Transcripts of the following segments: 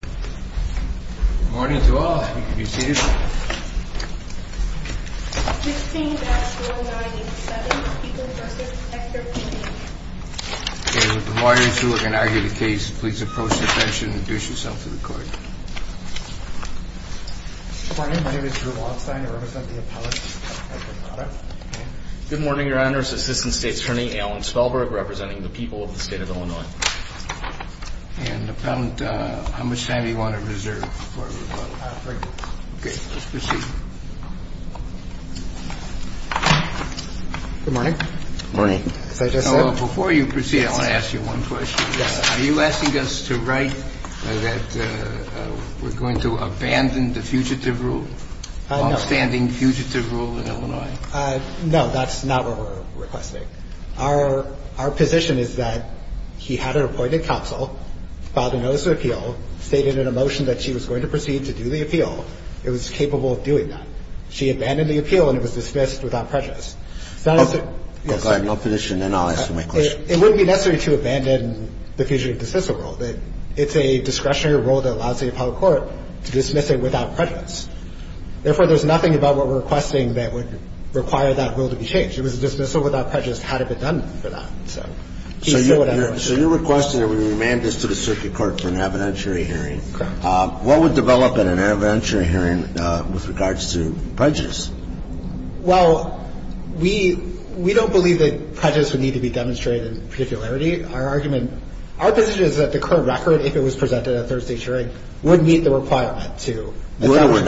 Good morning to all. Please approach the bench and introduce yourselves to the court. Good morning. My name is Drew Waldstein. I represent the Appellate Department of Parada. Good morning, Your Honors. Assistant State Attorney Alan Spellberg representing the people of the state of Illinois. And Appellant, how much time do you want to reserve before we vote? Three minutes. Okay. Let's proceed. Good morning. Good morning. Before you proceed, I want to ask you one question. Yes. Are you asking us to write that we're going to abandon the fugitive rule? No. Longstanding fugitive rule in Illinois. No, that's not what we're requesting. Our position is that he had an appointed counsel, filed a notice of appeal, stated in a motion that she was going to proceed to do the appeal. It was capable of doing that. She abandoned the appeal and it was dismissed without prejudice. Go ahead. No position. Then I'll answer my question. It wouldn't be necessary to abandon the fugitive dismissal rule. It's a discretionary rule that allows the appellate court to dismiss it without prejudice. Therefore, there's nothing about what we're requesting that would require that rule to be changed. If it was dismissed without prejudice, it had to be done for that. So you're requesting that we remand this to the circuit court for an evidentiary hearing. Correct. What would develop in an evidentiary hearing with regards to prejudice? Well, we don't believe that prejudice would need to be demonstrated in particularity. Our argument – our position is that the current record, if it was presented at Thursday's hearing, would meet the requirement to establish prejudice. It would or would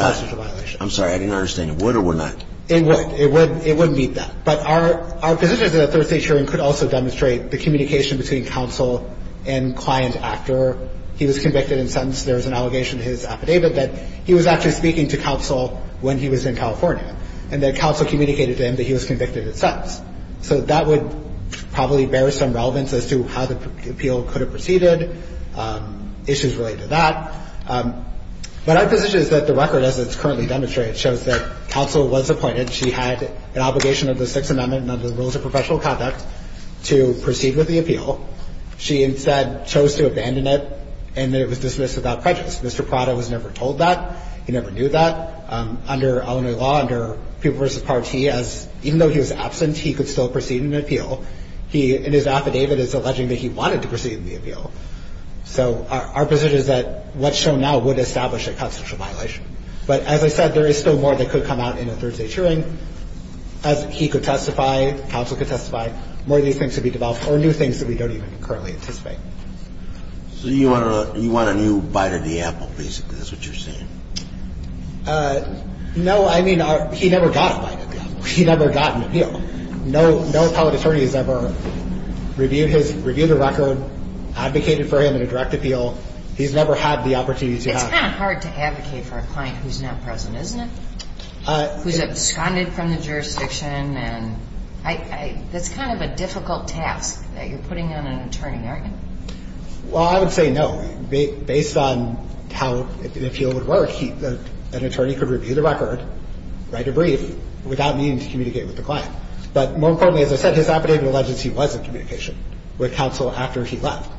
not? I'm sorry. I didn't understand. It would or would not? It would. It would meet that. But our position is that a Thursday hearing could also demonstrate the communication between counsel and client after he was convicted and sentenced. There was an allegation in his affidavit that he was actually speaking to counsel when he was in California and that counsel communicated to him that he was convicted and sentenced. So that would probably bear some relevance as to how the appeal could have proceeded, issues related to that. But our position is that the record, as it's currently demonstrated, shows that counsel was appointed. She had an obligation under the Sixth Amendment and under the Rules of Professional Conduct to proceed with the appeal. She instead chose to abandon it and that it was dismissed without prejudice. Mr. Prada was never told that. He never knew that. Under Illinois law, under People v. Party, even though he was absent, he could still proceed in an appeal. In his affidavit, it's alleging that he wanted to proceed in the appeal. So our position is that what's shown now would establish a constitutional violation. But as I said, there is still more that could come out in a Thursday hearing. He could testify, counsel could testify, more of these things could be developed or new things that we don't even currently anticipate. So you want a new bite of the apple, basically, is what you're saying? No, I mean, he never got a bite of the apple. He never got an appeal. No public attorney has ever reviewed the record, advocated for him in a direct appeal. He's never had the opportunity to have it. It's kind of hard to advocate for a client who's not present, isn't it? Who's absconded from the jurisdiction. That's kind of a difficult task that you're putting on an attorney, aren't you? Well, I would say no. Based on how the appeal would work, an attorney could review the record, write a brief, without needing to communicate with the client. But more importantly, as I said, his affidavit alleges he was in communication with counsel after he left.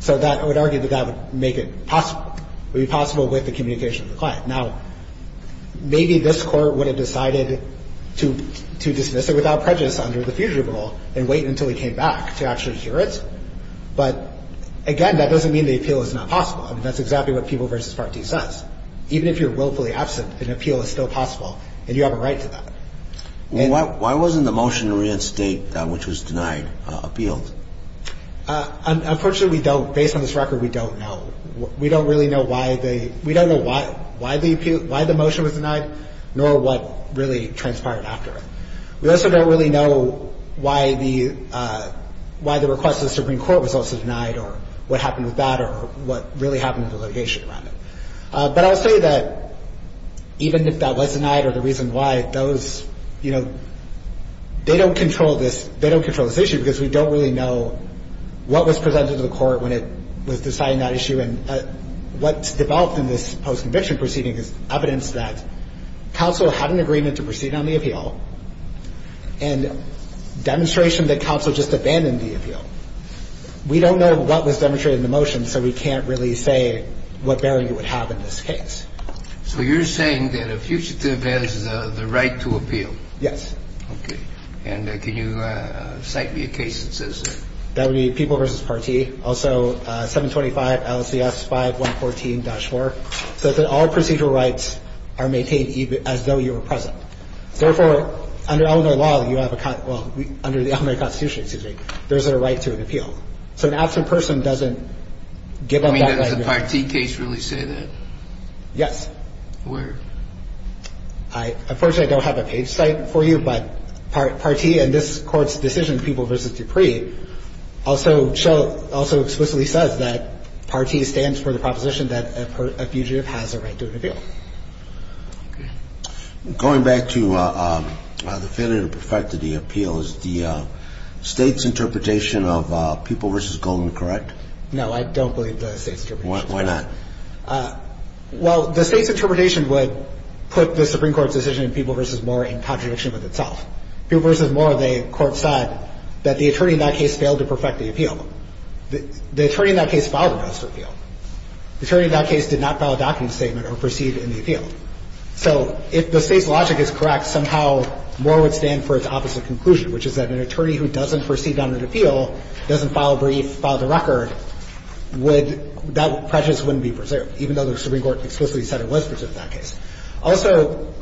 So I would argue that that would make it possible, would be possible with the communication with the client. Now, maybe this Court would have decided to dismiss it without prejudice under the future rule and wait until he came back to actually hear it. But, again, that doesn't mean the appeal is not possible. I mean, that's exactly what People v. Part D says. Even if you're willfully absent, an appeal is still possible, and you have a right to that. Why wasn't the motion to reinstate, which was denied, appealed? Unfortunately, we don't. Based on this record, we don't know. We don't really know why the motion was denied nor what really transpired after it. We also don't really know why the request to the Supreme Court was also denied or what happened with that or what really happened with the litigation around it. But I'll say that even if that was denied or the reason why, those, you know, they don't control this issue because we don't really know what was presented to the Court when it was deciding that issue. And what's developed in this post-conviction proceeding is evidence that counsel had an agreement to proceed on the appeal and demonstration that counsel just abandoned the appeal. We don't know what was demonstrated in the motion, so we can't really say what bearing it would have in this case. So you're saying that a fugitive has the right to appeal? Yes. Okay. And can you cite me a case that says that? That would be People v. Part T, also 725 LCS 5114-4, so that all procedural rights are maintained as though you were present. Therefore, under Illinois law, you have a con – well, under the Illinois Constitution, excuse me, there's a right to an appeal. So an absent person doesn't give up that right. I mean, does the Part T case really say that? Yes. Where? Unfortunately, I don't have a page cite for you, but Part T in this Court's decision, People v. Dupree, also explicitly says that Part T stands for the proposition that a fugitive has a right to an appeal. Okay. Going back to the failure to perfect the appeal, is the State's interpretation of People v. Goldman correct? No, I don't believe the State's interpretation. Why not? Well, the State's interpretation would put the Supreme Court's decision in People v. Moore in contradiction with itself. People v. Moore, the Court said that the attorney in that case failed to perfect the appeal. The attorney in that case filed an officer appeal. The attorney in that case did not file a document statement or proceed in the appeal. So if the State's logic is correct, somehow Moore would stand for its opposite conclusion, which is that an attorney who doesn't proceed on an appeal, doesn't file a brief, file the record, would – that prejudice wouldn't be preserved, even though the Supreme Court explicitly said it was preserved in that case. Also,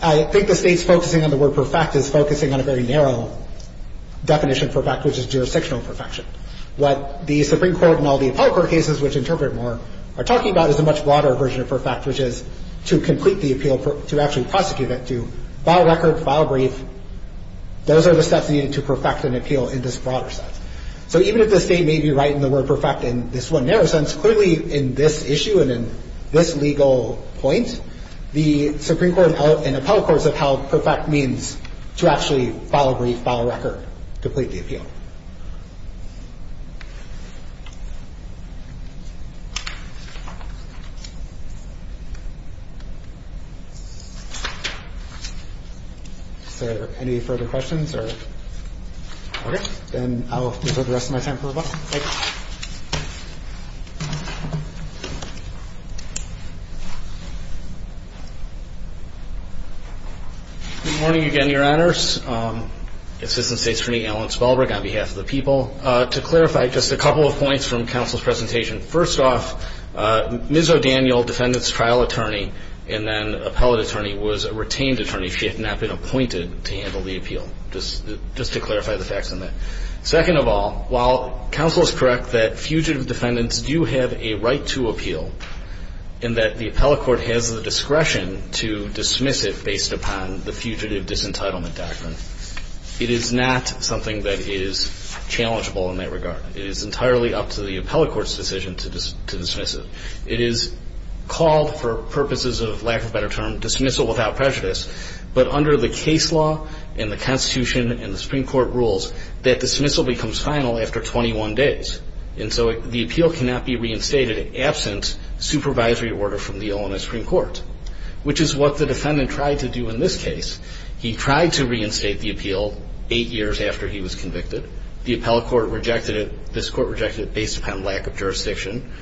I think the State's focusing on the word perfect is focusing on a very narrow definition of perfect, which is jurisdictional perfection. What the Supreme Court and all the appellate court cases, which interpret Moore, are talking about is a much broader version of perfect, which is to complete the appeal, to actually prosecute it, to file a record, file a brief. Those are the steps needed to perfect an appeal in this broader sense. So even if the State may be right in the word perfect in this one narrow sense, clearly in this issue and in this legal point, the Supreme Court and appellate courts have held perfect means to actually file a brief, file a record, complete the appeal. Thank you. Is there any further questions? Okay. Then I'll reserve the rest of my time for rebuttal. Thank you. Good morning again, Your Honors. Assistant State's Attorney Alan Spelberg on behalf of the people. To clarify, just a couple of points from counsel's presentation. First off, Ms. O'Daniel, defendant's trial attorney and then appellate attorney, was a retained attorney. She had not been appointed to handle the appeal, just to clarify the facts on that. Second of all, while counsel is correct that fugitive defendants do have a right to appeal, and that the appellate court has the discretion to dismiss it based upon the fugitive disentitlement doctrine, it is not something that is challengeable in that regard. It is entirely up to the appellate court's decision to dismiss it. It is called for purposes of lack of a better term dismissal without prejudice, but under the case law and the Constitution and the Supreme Court rules, that dismissal becomes final after 21 days. And so the appeal cannot be reinstated absent supervisory order from the Illinois Supreme Court, which is what the defendant tried to do in this case. He tried to reinstate the appeal eight years after he was convicted. The appellate court rejected it. This court rejected it based upon lack of jurisdiction,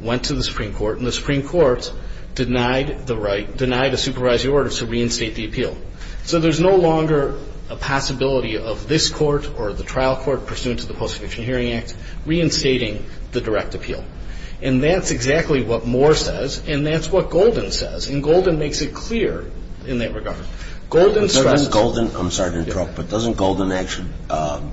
went to the Supreme Court, and the Supreme Court denied the right, denied a supervisory order to reinstate the appeal. So there's no longer a possibility of this court or the trial court pursuant to the Post-Conviction Hearing Act reinstating the direct appeal. And that's exactly what Moore says, and that's what Golden says. And Golden makes it clear in that regard. Golden stressed the ---- But doesn't Golden ---- I'm sorry to interrupt, but doesn't Golden actually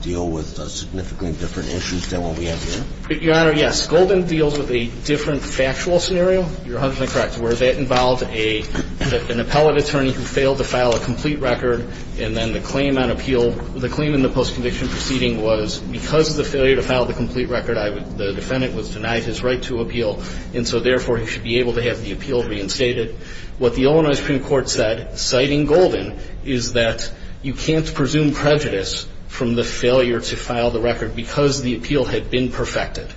deal with significantly different issues than what we have here? Your Honor, yes. Golden deals with a different factual scenario. You're 100 percent correct, where that involved an appellate attorney who failed to file a complete record, and then the claim on appeal, the claim in the post-conviction proceeding was because of the failure to file the complete record, the defendant was denied his right to appeal, and so therefore he should be able to have the appeal reinstated. What the Illinois Supreme Court said, citing Golden, is that you can't presume prejudice from the failure to file the record because the appeal had been perfected.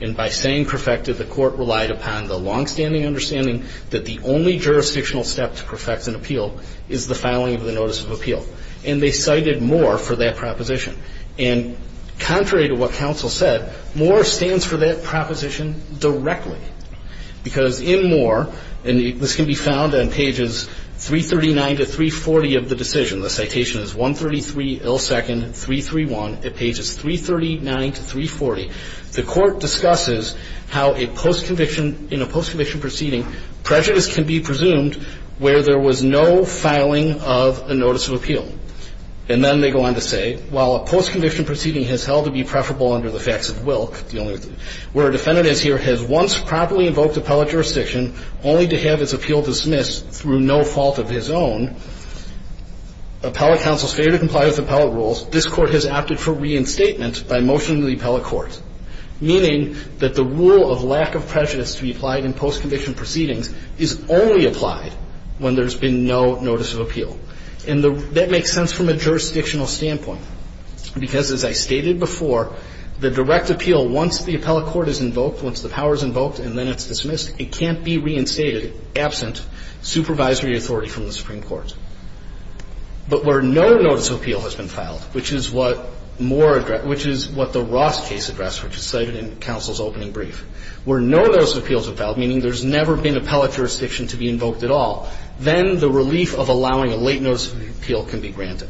And by saying perfected, the court relied upon the longstanding understanding that the only jurisdictional step to perfect an appeal is the filing of the notice of appeal. And they cited Moore for that proposition. And contrary to what counsel said, Moore stands for that proposition directly because in Moore, and this can be found on pages 339 to 340 of the decision, the citation is 133 L. 2nd. 331 at pages 339 to 340, the court discusses how a post-conviction ---- in a post-conviction proceeding, prejudice can be presumed where there was no filing of a notice of appeal. And then they go on to say, while a post-conviction proceeding has held to be preferable under the facts of will, where a defendant is here, has once properly invoked appellate jurisdiction only to have its appeal dismissed through no fault of his own, appellate counsel's failure to comply with appellate rules, this Court has opted for reinstatement by motion to the appellate court, meaning that the rule of lack of prejudice to be applied in post-conviction proceedings is only applied when there's been no notice of appeal. And that makes sense from a jurisdictional standpoint because, as I stated before, the direct appeal, once the appellate court is invoked, once the power is invoked and then it's dismissed, it can't be reinstated absent supervisory authority from the Supreme Court. But where no notice of appeal has been filed, which is what Moore ---- which is what cited in counsel's opening brief. Where no notice of appeal has been filed, meaning there's never been appellate jurisdiction to be invoked at all, then the relief of allowing a late notice of appeal can be granted.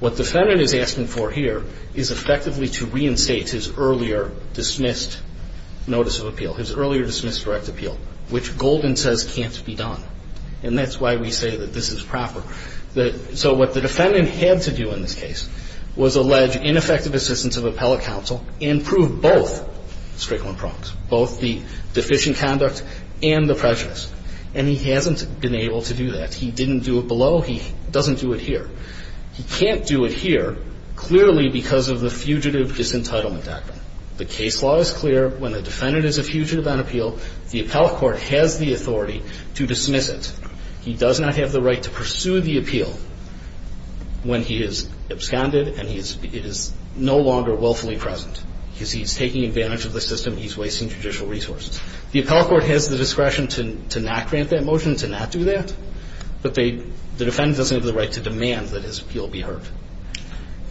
What the defendant is asking for here is effectively to reinstate his earlier dismissed notice of appeal, his earlier dismissed direct appeal, which Golden says can't be done. And that's why we say that this is proper. So what the defendant had to do in this case was allege ineffective assistance of appellate counsel and prove both Strickland prompts, both the deficient conduct and the prejudice. And he hasn't been able to do that. He didn't do it below. He doesn't do it here. He can't do it here clearly because of the fugitive disentitlement act. The case law is clear. When the defendant is a fugitive on appeal, the appellate court has the authority to dismiss it. He does not have the right to pursue the appeal when he is absconded and it is no longer willfully present because he's taking advantage of the system. He's wasting judicial resources. The appellate court has the discretion to not grant that motion, to not do that, but the defendant doesn't have the right to demand that his appeal be heard.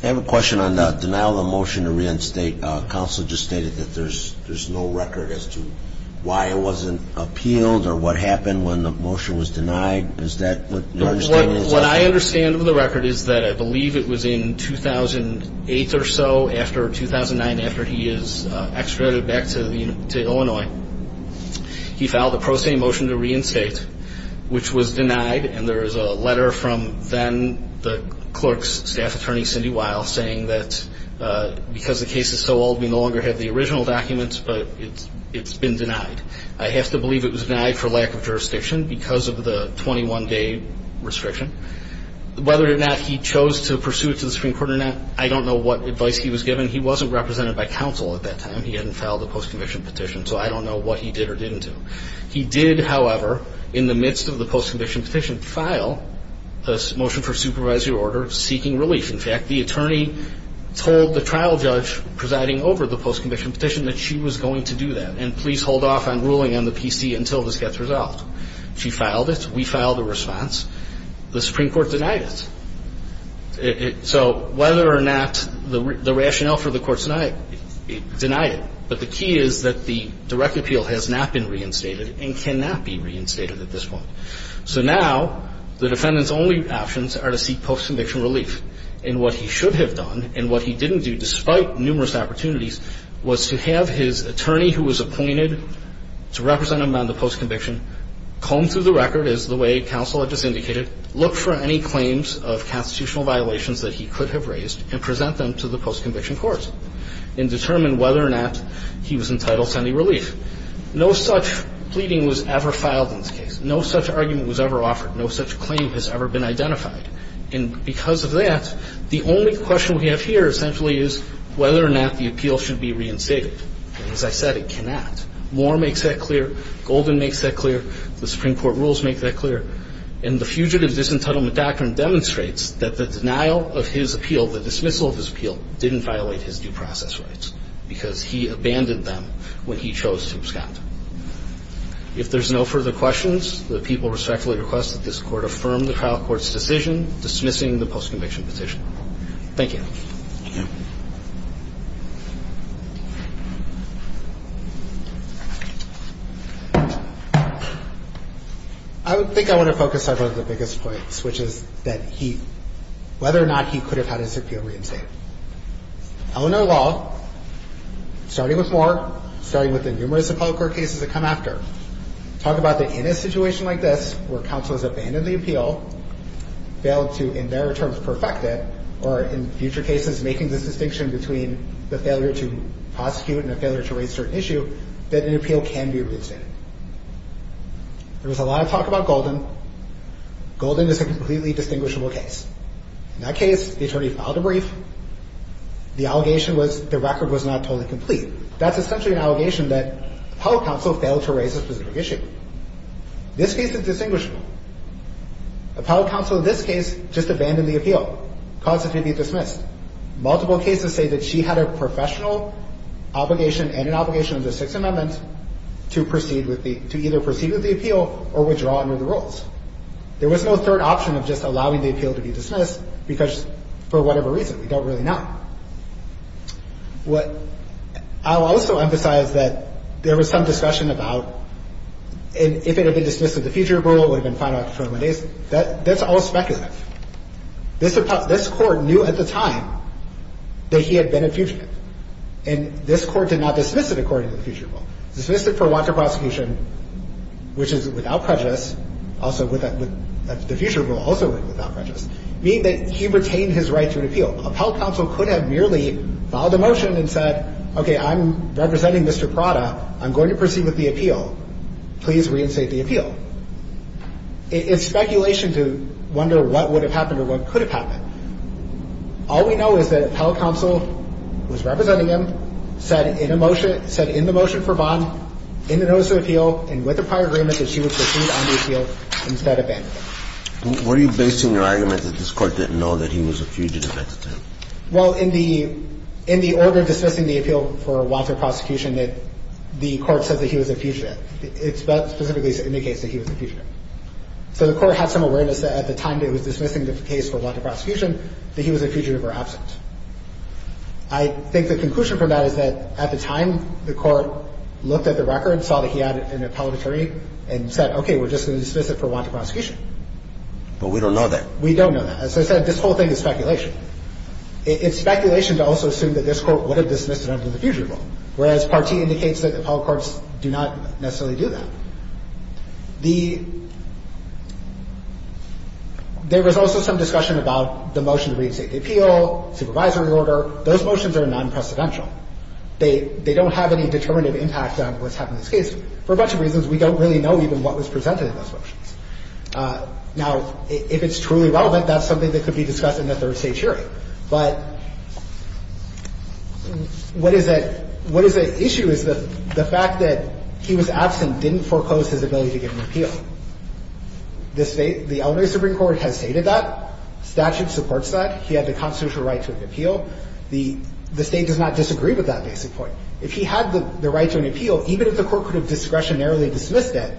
I have a question on the denial of the motion to reinstate. Counsel just stated that there's no record as to why it wasn't appealed or what happened when the motion was denied. Is that what your understanding is? My understanding is that I believe it was in 2008 or so after 2009 after he is extradited back to Illinois. He filed a pro se motion to reinstate, which was denied, and there is a letter from then the clerk's staff attorney, Cindy Weil, saying that because the case is so old, we no longer have the original documents, but it's been denied. I have to believe it was denied for lack of jurisdiction because of the 21-day restriction. Whether or not he chose to pursue it to the Supreme Court or not, I don't know what advice he was given. He wasn't represented by counsel at that time. He hadn't filed a post-conviction petition, so I don't know what he did or didn't do. He did, however, in the midst of the post-conviction petition, file a motion for supervisory order seeking relief. In fact, the attorney told the trial judge presiding over the post-conviction petition that she was going to do that, and please hold off on ruling on the PC until this gets resolved. She filed it. We filed a response. The Supreme Court denied it. So whether or not the rationale for the court denied it, but the key is that the direct appeal has not been reinstated and cannot be reinstated at this point. So now the defendant's only options are to seek post-conviction relief. And what he should have done and what he didn't do, despite numerous opportunities, was to have his attorney who was appointed to represent him on the post-conviction petition, comb through the record, as the way counsel had just indicated, look for any claims of constitutional violations that he could have raised and present them to the post-conviction court and determine whether or not he was entitled to any relief. No such pleading was ever filed in this case. No such argument was ever offered. No such claim has ever been identified. And because of that, the only question we have here essentially is whether or not the appeal should be reinstated. As I said, it cannot. Moore makes that clear. Golden makes that clear. The Supreme Court rules make that clear. And the Fugitive Disentitlement Doctrine demonstrates that the denial of his appeal, the dismissal of his appeal, didn't violate his due process rights because he abandoned them when he chose to abscond. If there's no further questions, the people respectfully request that this Court affirm the trial court's decision dismissing the post-conviction petition. Thank you. I think I want to focus on one of the biggest points, which is whether or not he could have had his appeal reinstated. Eleanor Law, starting with Moore, starting with the numerous appellate court cases that come after, talk about that in a situation like this where counsel has abandoned the appeal, failed to, in their terms, perfect it, or in future cases, making this distinction between the failure to prosecute and a failure to raise certain issue, that an appeal can be reinstated. There was a lot of talk about Golden. Golden is a completely distinguishable case. In that case, the attorney filed a brief. The allegation was the record was not totally complete. That's essentially an allegation that appellate counsel failed to raise a specific issue. This case is distinguishable. Appellate counsel in this case just abandoned the appeal, caused it to be dismissed. Multiple cases say that she had a professional obligation and an obligation under the Sixth Amendment to either proceed with the appeal or withdraw under the rules. There was no third option of just allowing the appeal to be dismissed because for whatever reason. We don't really know. I'll also emphasize that there was some discussion about if it had been dismissed in the future rule, it would have been filed after 21 days. That's all speculative. This court knew at the time that he had been a fugitive, and this court did not dismiss it according to the future rule. Dismissed it for want of prosecution, which is without prejudice, also with the future rule also without prejudice, meaning that he retained his right to an appeal. Appellate counsel could have merely filed a motion and said, okay, I'm representing Mr. Prada. I'm going to proceed with the appeal. Please reinstate the appeal. It's speculation to wonder what would have happened or what could have happened. All we know is that appellate counsel, who was representing him, said in the motion for bond, in the notice of appeal, and with the prior agreement that she would proceed on the appeal instead of banning it. Were you basing your argument that this court didn't know that he was a fugitive at the time? Well, in the order of dismissing the appeal for want of prosecution, the court said that he was a fugitive. It specifically indicates that he was a fugitive. So the court had some awareness that at the time that it was dismissing the case for want of prosecution that he was a fugitive or absent. I think the conclusion from that is that at the time, the court looked at the record, saw that he had an appellatory, and said, okay, we're just going to dismiss it for want of prosecution. But we don't know that. We don't know that. As I said, this whole thing is speculation. It's speculation to also assume that this court would have dismissed it under the future rule, whereas Part T indicates that the appellate courts do not necessarily do that. The – there was also some discussion about the motion to reinstate the appeal, supervisory order. Those motions are non-precedential. They don't have any determinative impact on what's happened in this case. For a bunch of reasons, we don't really know even what was presented in those motions. Now, if it's truly relevant, that's something that could be discussed in a third-stage hearing. But what is at – what is at issue is the fact that he was absent, didn't foreclose his ability to get an appeal. This – the elementary Supreme Court has stated that. Statute supports that. He had the constitutional right to an appeal. The State does not disagree with that basic point. If he had the right to an appeal, even if the court could have discretionarily dismissed it,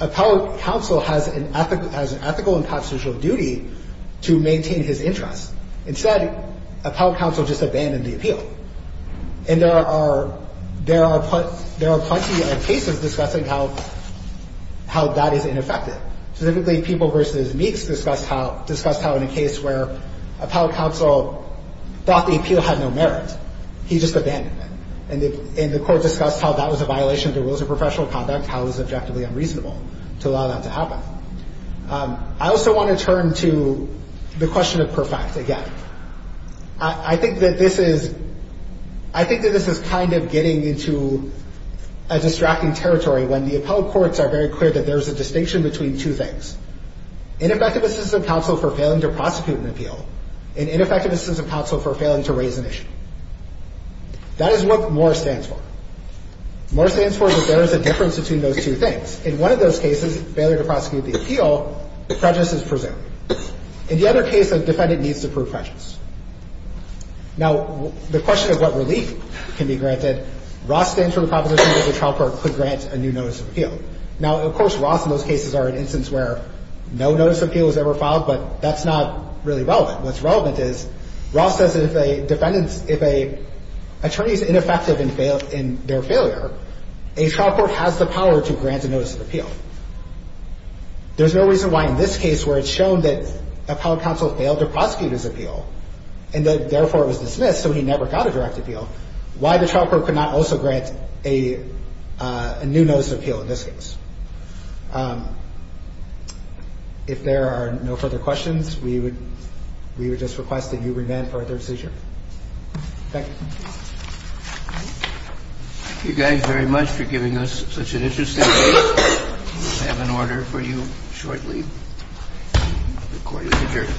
appellate counsel has an ethical and constitutional duty to maintain his interest. Instead, appellate counsel just abandoned the appeal. And there are – there are plenty of cases discussing how that is ineffective. Specifically, People v. Meeks discussed how in a case where appellate counsel thought the appeal had no merit, he just abandoned it. And the court discussed how that was a violation of the rules of professional conduct, how it was objectively unreasonable to allow that to happen. I also want to turn to the question of per fact again. I think that this is – I think that this is kind of getting into a distracting territory when the appellate courts are very clear that there is a distinction between two things, ineffective assistance of counsel for failing to prosecute an appeal and ineffective assistance of counsel for failing to raise an issue. That is what MORE stands for. MORE stands for that there is a difference between those two things. In one of those cases, failure to prosecute the appeal, prejudice is presumed. In the other case, a defendant needs to prove prejudice. Now, the question of what relief can be granted, ROS stands for the proposition that the trial court could grant a new notice of appeal. Now, of course, ROS in those cases are an instance where no notice of appeal was ever filed, but that's not really relevant. What's relevant is ROS says that if a defendant's – if an attorney is ineffective in their failure, a trial court has the power to grant a notice of appeal. There's no reason why in this case where it's shown that appellate counsel failed to prosecute his appeal and therefore was dismissed, so he never got a direct appeal, why the trial court could not also grant a new notice of appeal in this case. If there are no further questions, we would – we would just request that you remand for a third seizure. Thank you. Thank you guys very much for giving us such an interesting case. We'll have an order for you shortly. The court is adjourned.